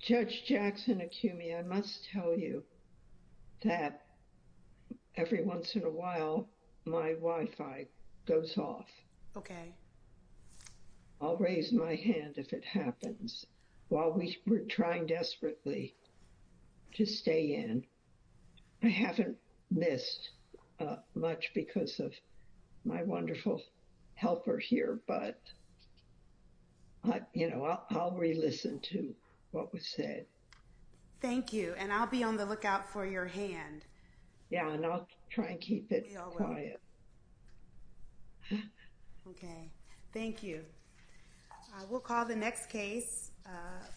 Judge Jackson Acumi, I must tell you that every once in a while my Wi-Fi goes off. Okay. I'll raise my hand if it happens while we were trying desperately to stay in. I haven't missed much because of my wonderful helper here but, you know, I'll re-listen to what was said. Thank you and I'll be on the lookout for your hand. Yeah, and I'll try and keep it quiet. Okay, thank you. We'll call the next case,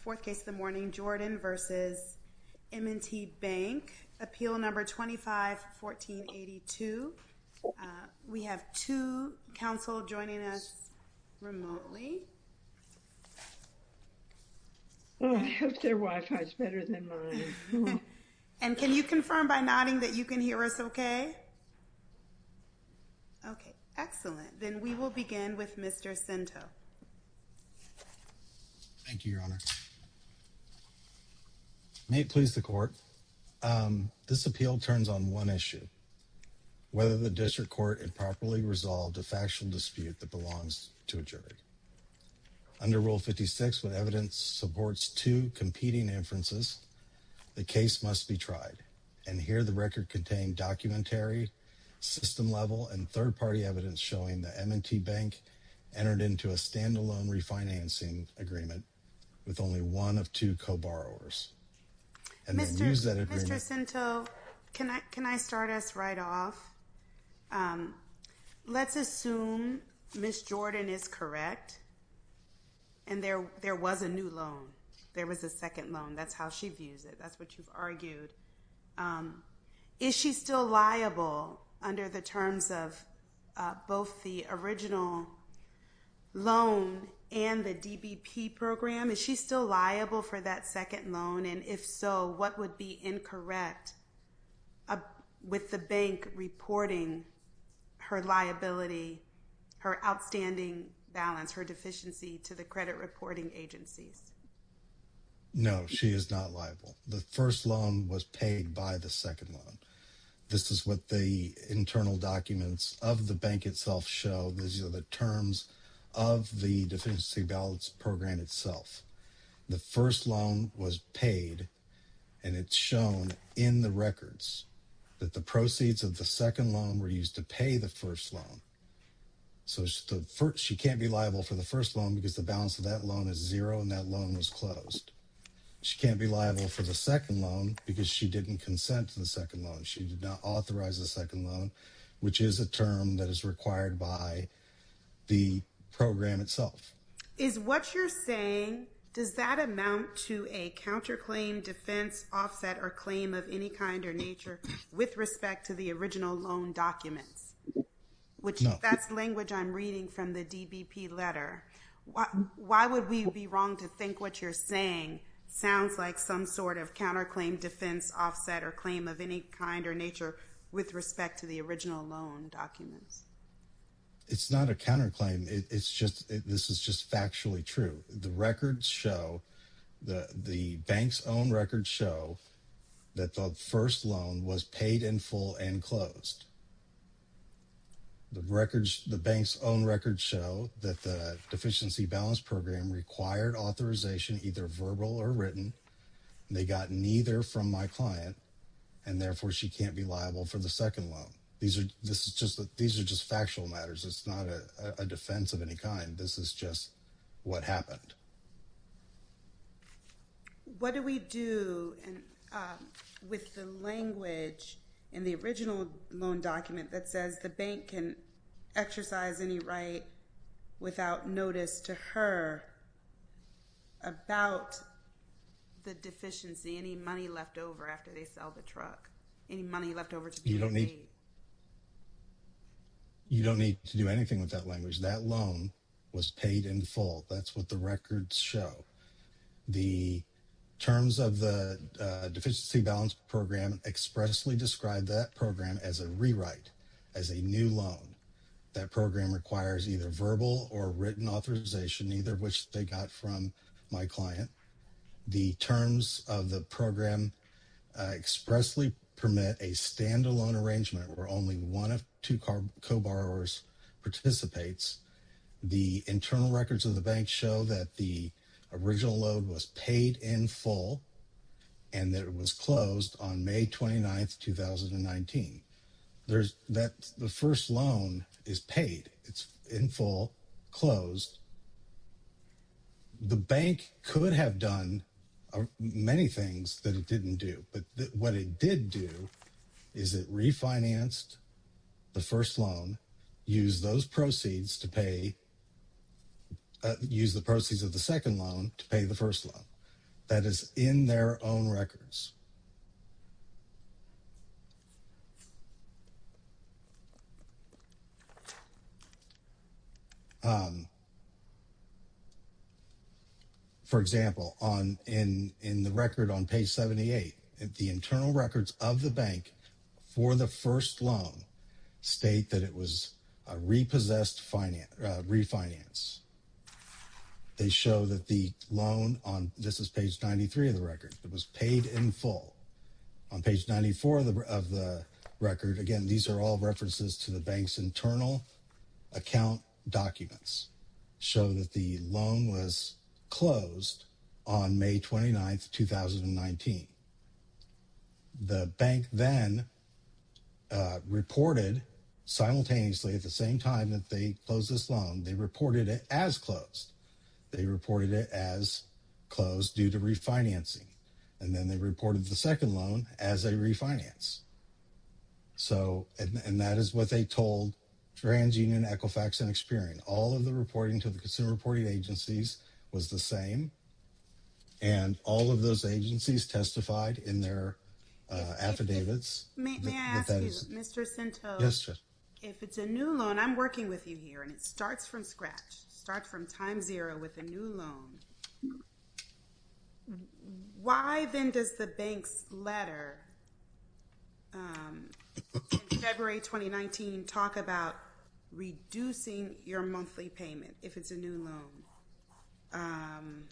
fourth case of the morning, Jordan v. M&T Bank, appeal number 25-1482. We have two counsel joining us remotely. Oh, I hope their Wi-Fi is better than mine. And can you confirm by nodding that you can hear us okay? Okay, excellent. Then we will begin with Mr. Cento. Thank you, Your Honor. May it please the court, this appeal turns on one issue, whether the district court improperly resolved a factual dispute that belongs to a jury. Under Rule 56, when evidence supports two competing inferences, the case must be tried. And here the record contained documentary, system level, and third-party evidence showing that M&T Bank entered into a standalone refinancing agreement with only one of two co-borrowers. Mr. Cento, can I start us right off? Let's assume Ms. Jordan is correct and there was a new loan. There was a second loan. That's how she views it. That's what you've argued. Is she still liable under the terms of both the original loan and the DBP program? Is she still liable for that second loan? And if so, what would be incorrect with the bank reporting her liability, her outstanding balance, her deficiency to the credit reporting agencies? No, she is not liable. The first loan was paid by the second loan. This is what the internal documents of the bank itself show. These are the terms of the Deficiency Balance Program itself. The first loan was paid and it's shown in the records that the proceeds of the second loan were used to pay the first loan. So she can't be liable for the first loan because the balance of that loan is zero and that loan was closed. She can't be liable for the second loan because she didn't consent to the second loan. She did not authorize the second loan, which is a term that is required by the program itself. Is what you're saying, does that amount to a counterclaim, defense, offset, or claim of any kind or nature with respect to the original loan documents, which that's language I'm reading from the DBP letter. Why would we be wrong to think what you're saying sounds like some sort of counterclaim, defense, offset, or claim of any kind or nature with respect to the original loan documents? It's not a counterclaim. It's just, this is just factually true. The records show, the bank's own records show that the first loan was paid in full and closed. The records, the bank's own records show that the Deficiency Balance Program required authorization, either verbal or written. They got neither from my client and therefore she can't be liable for the second loan. These are just factual matters. It's not a defense of any kind. This is just what happened. What do we do with the language in the original loan document that says the bank can exercise any right without notice to her about the deficiency, any money left over after they sell the truck, any money left over to be paid? You don't need to do anything with that language. That loan was paid in full. That's what the records show. The terms of the Deficiency Balance Program expressly describe that program as a rewrite, as a new loan. That program requires either verbal or written authorization, neither of which they got from my client. The terms of the program expressly permit a standalone arrangement where only one of two co-borrowers participates. The internal records of the bank show that the original loan was paid in full and that it was closed on May 29, 2019. The first loan is paid. It's in full, closed. The bank could have done many things that it didn't do, but what it did do is it refinanced the first loan, used those proceeds to pay, used the proceeds of the second loan to pay the first loan. That is in their own records. For example, in the record on page 78, the internal records of the bank for the first loan state that it was a repossessed refinance. They show that the loan on, this is page 93 of the record, that was paid in full. On page 94 of the record, again, these are all references to the bank's internal account documents, show that the loan was closed on May 29, 2019. The bank then reported simultaneously at the same time that they closed this loan, they reported it as closed. They reported it as closed due to refinancing. Then they reported the second loan as a refinance. That is what they told TransUnion, Equifax, and Experian. All of the reporting to the consumer reporting agencies was the same. All of those agencies testified in their affidavits. May I ask you, Mr. Cento? Yes, ma'am. If it's a new loan, I'm working with you here, and it starts from scratch, starts from time zero with a new loan. Why then does the bank's letter in February 2019 talk about reducing your monthly payment if it's a new loan? Um,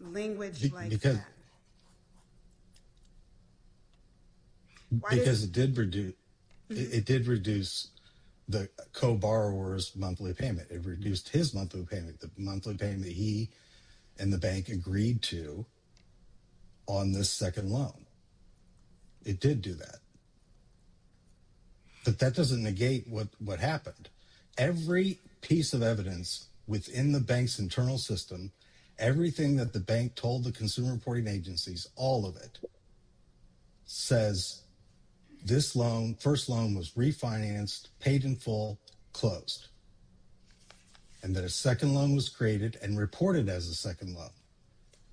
language like that. Because it did reduce the co-borrower's monthly payment, it reduced his monthly payment, the monthly payment he and the bank agreed to on this second loan. It did do that. But that doesn't negate what happened. Every piece of evidence within the bank's internal system, everything that the bank told the consumer reporting agencies, all of it, says this loan, first loan was refinanced, paid in full, closed, and that a second loan was created and reported as a second loan.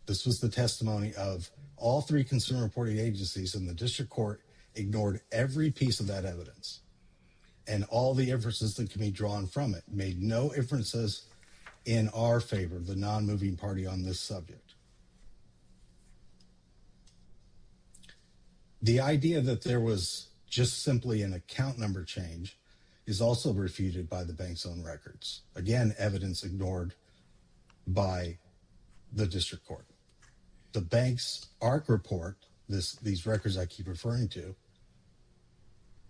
This was the testimony of all three consumer reporting agencies, and the district court ignored every piece of that evidence. And all the inferences that can be drawn from it made no inferences in our favor, the non-moving party on this subject. The idea that there was just simply an account number change is also refuted by the bank's own records. Again, evidence ignored by the district court. The bank's ARC report, these records I keep referring to,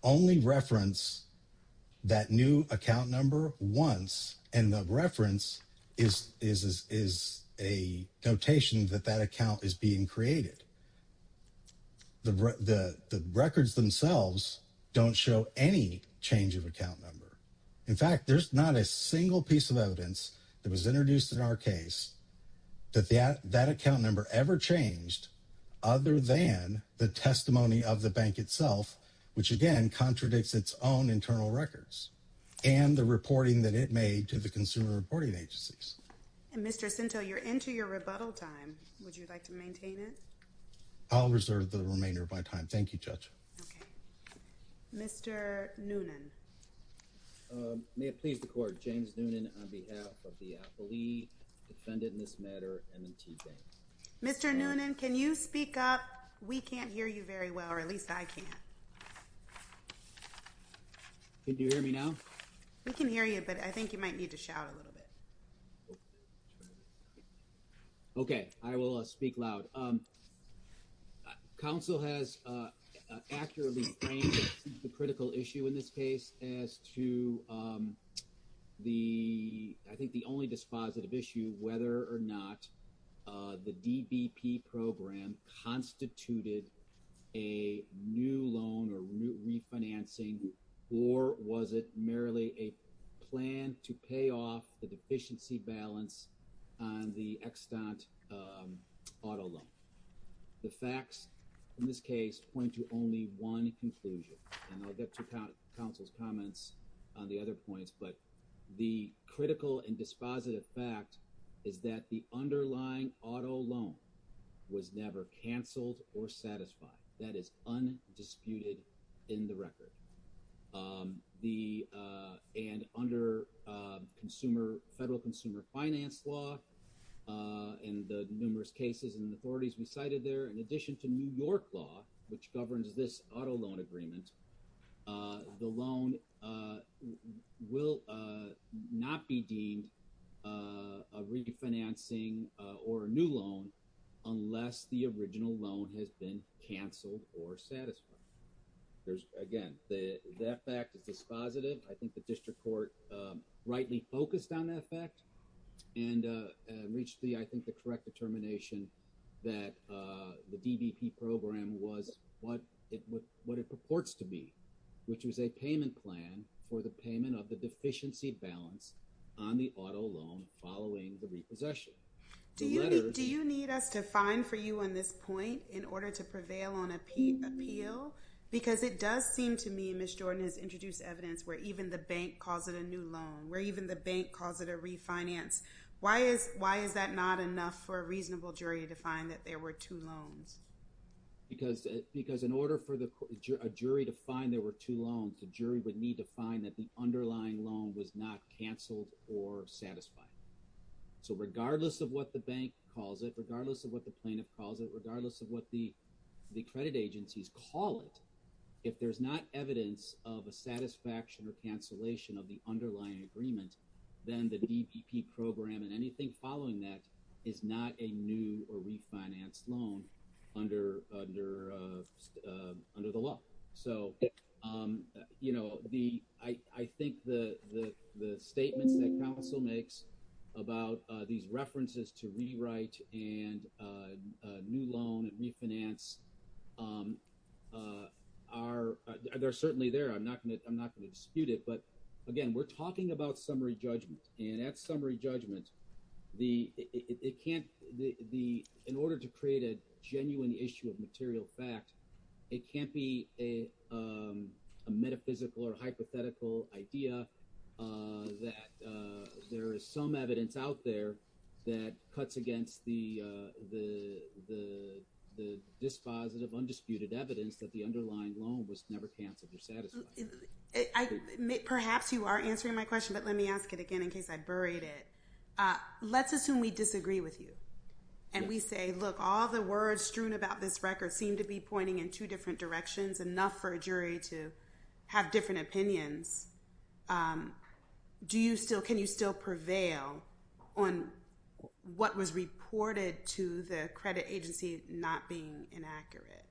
only reference that new account number once, and the reference is a notation that that account is being created. The records themselves don't show any change of account number. In fact, there's not a single piece of evidence that was introduced in our case that that account number ever changed other than the testimony of the bank itself, which, again, contradicts its own internal records and the reporting that it made to the consumer reporting agencies. And Mr. Sintel, you're into your rebuttal time. Would you like to maintain it? I'll reserve the remainder of my time. Thank you, Judge. Mr. Noonan. May it please the court, James Noonan on behalf of the Appley Defendant in this matter, M&T Bank. Mr. Noonan, can you speak up? We can't hear you very well, or at least I can't. Can you hear me now? We can hear you, but I think you might need to shout a little bit. Okay, I will speak loud. Council has accurately framed the critical issue in this case as to the, I think the only dispositive issue, whether or not the DBP program constituted a new loan or refinancing, or was it merely a plan to pay off the deficiency balance on the extant auto loan? The facts in this case point to only one conclusion, and I'll get to Council's comments on the other points, but the critical and dispositive fact is that the underlying auto loan was never canceled or satisfied. That is undisputed in the record. And under federal consumer finance law and the numerous cases and authorities we there, in addition to New York law, which governs this auto loan agreement, the loan will not be deemed a refinancing or a new loan unless the original loan has been canceled or satisfied. Again, that fact is dispositive. I think the district court rightly focused on that fact and reached the, I think, the correct determination that the DBP program was what it purports to be, which was a payment plan for the payment of the deficiency balance on the auto loan following the repossession. Do you need us to fine for you on this point in order to prevail on appeal? Because it does seem to me, Ms. Jordan has introduced evidence where even the bank calls it a new loan, where even the bank calls it a refinance. Why is that not enough for a reasonable jury to find that there were two loans? Because in order for a jury to find there were two loans, the jury would need to find that the underlying loan was not canceled or satisfied. So regardless of what the bank calls it, regardless of what the plaintiff calls it, regardless of what the credit agencies call it, if there's not evidence of a satisfaction or cancellation of the underlying agreement, then the DBP program and anything following that is not a new or refinanced loan under the law. So, you know, the, I think the statements that council makes about these references to rewrite and a new loan and refinance are, they're certainly there. I'm not going to dispute it, but again, we're talking about summary judgment and at summary judgment, in order to create a genuine issue of material fact, it can't be a metaphysical or hypothetical idea that there is some evidence out there that cuts against the dispositive, undisputed evidence that the underlying loan was never canceled or satisfied. Perhaps you are answering my question, but let me ask it again in case I buried it. Let's assume we disagree with you. And we say, look, all the words strewn about this record seem to be pointing in two different directions, enough for a jury to have different opinions. Do you still, can you still prevail on what was reported to the credit agency not being inaccurate?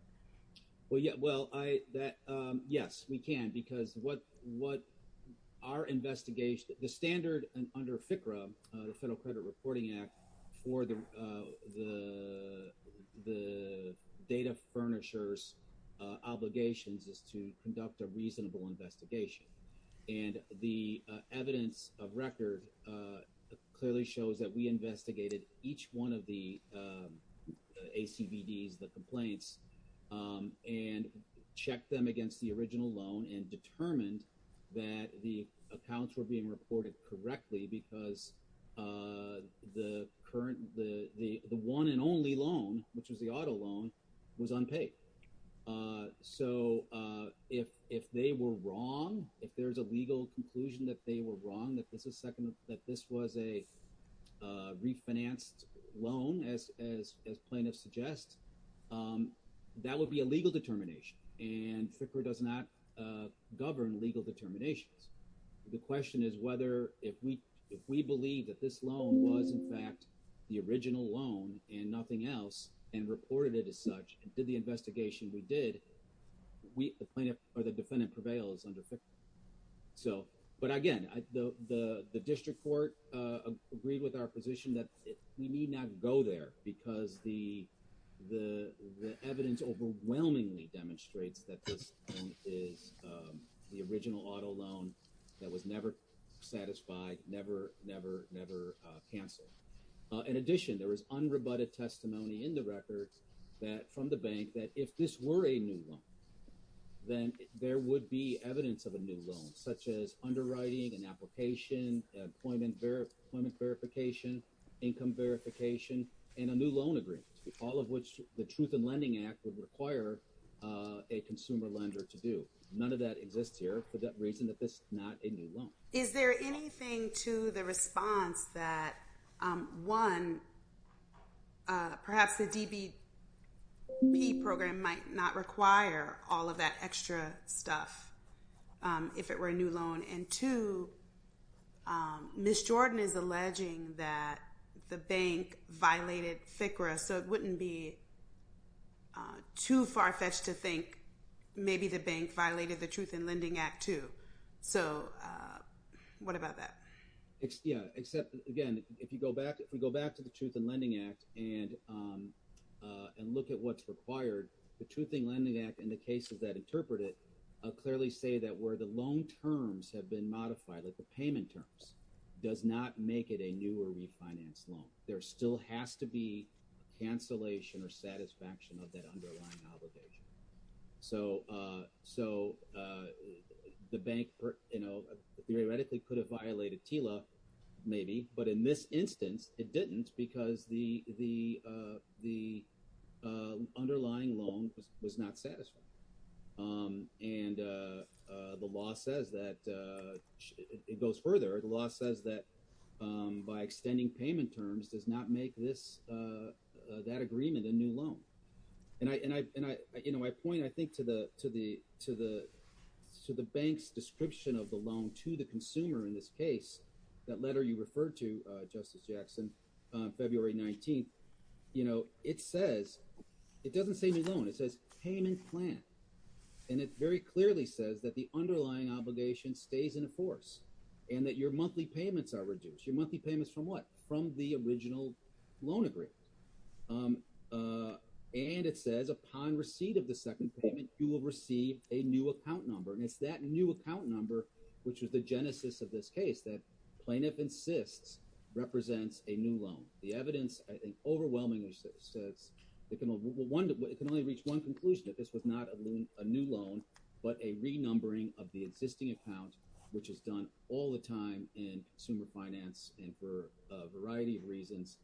Well, yeah, well, I, that, yes, we can, because what our investigation, the standard and under FCRA, the Federal Credit Reporting Act for the data furnishers obligations is to conduct a reasonable investigation. And the evidence of record clearly shows that we investigated each one of the ACBDs, the complaints, and checked them against the original loan and determined that the accounts were being reported correctly because the current, the one and only loan, which was the auto loan, was unpaid. So if they were wrong, if there's a legal conclusion that they were wrong, that this is second, that this was a refinanced loan, as plaintiffs suggest, that would be a legal determination. And FCRA does not govern legal determinations. The question is whether, if we believe that this loan was in fact the original loan and nothing else and reported it as such and did the investigation we did, the plaintiff or the defendant prevails under FCRA. So, but again, the District Court agreed with our position that we need not go there because the evidence overwhelmingly demonstrates that this loan is the original auto loan that was never satisfied, never, never, never canceled. In addition, there was unrebutted testimony in the record that, from the bank, that if this were a new loan, then there would be evidence of a new loan, such as underwriting, an application, employment verification, income verification, and a new loan agreement, all of which the Truth in Lending Act would require a consumer lender to do. None of that exists here for that reason that this is not a new loan. Is there anything to the response that, one, perhaps the DBP program might not require all of that extra stuff if it were a new loan? And two, Ms. Jordan is alleging that the bank violated FCRA, so it wouldn't be too far-fetched to think maybe the bank violated the Truth in Lending Act, too. So, what about that? Yeah, except, again, if you go back, if we go back to the Truth in Lending Act and look at what's required, the Truth in Lending Act and the cases that interpret it clearly say that where the loan terms have been modified, like the payment terms, does not make it a new or refinanced loan. There still has to be a cancellation or satisfaction of that underlying obligation. So, the bank, you know, theoretically could have violated TILA, maybe, but in this instance, it didn't because the underlying loan was not satisfied. And the law says that, it goes further, the law says that by extending payment terms does not make this, that agreement a new loan. And I, you know, I point, I think, to the bank's description of the loan to the consumer in this case, that letter you referred to, Justice Jackson, February 19th, you know, it says, it doesn't say new loan, it says payment plan. And it very clearly says that the underlying obligation stays in force and that your monthly payments are reduced. Your monthly payments from what? From the original loan agreement. And it says, upon receipt of the second payment, you will receive a new account number. And it's that new account number, which was the genesis of this case, that plaintiff insists represents a new loan. The evidence, I think, overwhelmingly says, it can only reach one conclusion, that this was not a new loan, but a renumbering of the existing account, which is done all the time in consumer finance and for a variety of reasons.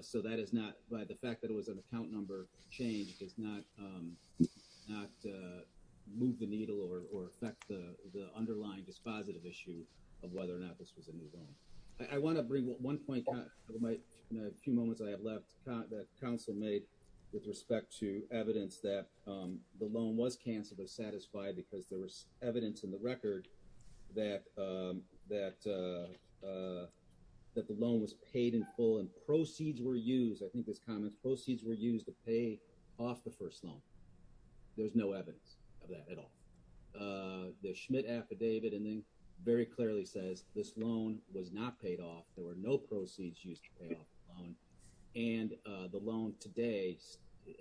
So that is not, the fact that it was an account number change does not move the needle or affect the underlying dispositive issue of whether or not this was a new loan. I want to bring one point, in a few moments I have left, that council made with respect to evidence that the loan was canceled but satisfied because there was evidence in the record that the loan was paid in full and proceeds were used, I think this comment, proceeds were used to pay off the first loan. There's no evidence of that at all. The Schmidt affidavit ending very clearly says, this loan was not paid off, there were no proceeds used to pay off the loan, and the loan today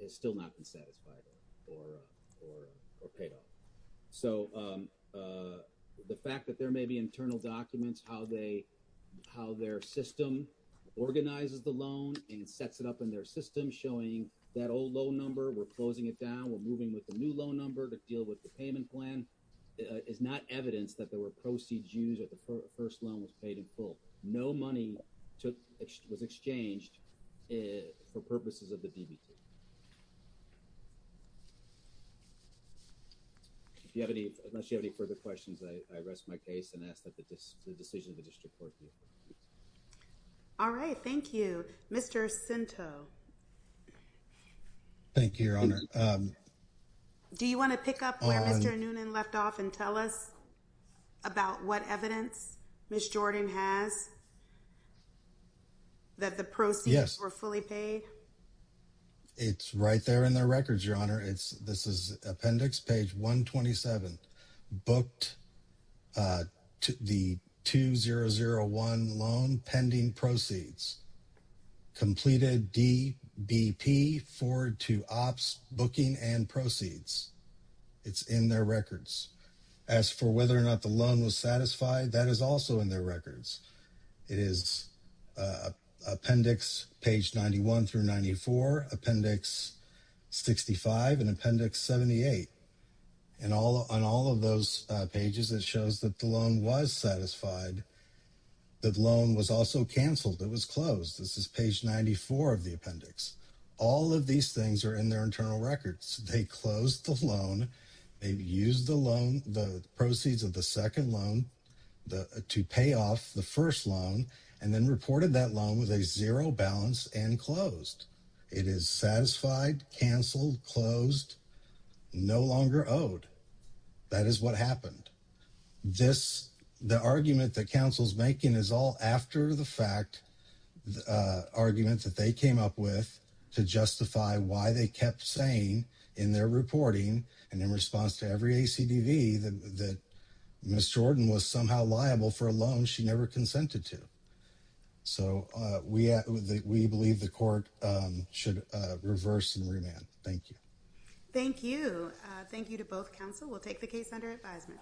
has still not been satisfied or paid off. So the fact that there may be internal documents, how their system organizes the loan and sets it up in their system, showing that old loan number, we're closing it down, we're moving with the new loan number to deal with the payment plan, is not evidence that there was a new loan that was paid in full. No money was exchanged for purposes of the DBT. Unless you have any further questions, I rest my case and ask that the decision of the District Court be approved. All right, thank you. Mr. Cento. Thank you, Your Honor. Do you want to pick up where Mr. Noonan left off and tell us about what evidence Ms. Jordan has that the proceeds were fully paid? It's right there in their records, Your Honor. This is appendix page 127. Booked the 2001 loan pending proceeds. Completed DBP forward to ops booking and proceeds. It's in their records. As for whether or not the loan was satisfied, that is also in their records. It is appendix page 91 through 94, appendix 65, and appendix 78. And on all of those pages, it shows that the loan was satisfied. The loan was also canceled. It was closed. This is page 94 of the appendix. All of these things are in their internal records. They closed the loan. They used the proceeds of the second loan to pay off the first loan and then reported that loan with a zero balance and closed. It is satisfied, canceled, closed, no longer owed. That is what happened. This, the argument that counsel's making is all after the fact, the argument that they came up with to justify why they kept saying in their reporting and in response to every ACDV that Ms. Jordan was somehow liable for a loan she never consented to. So we believe the court should reverse and remand. Thank you. Thank you. Thank you to both counsel. We'll take the case under advisement.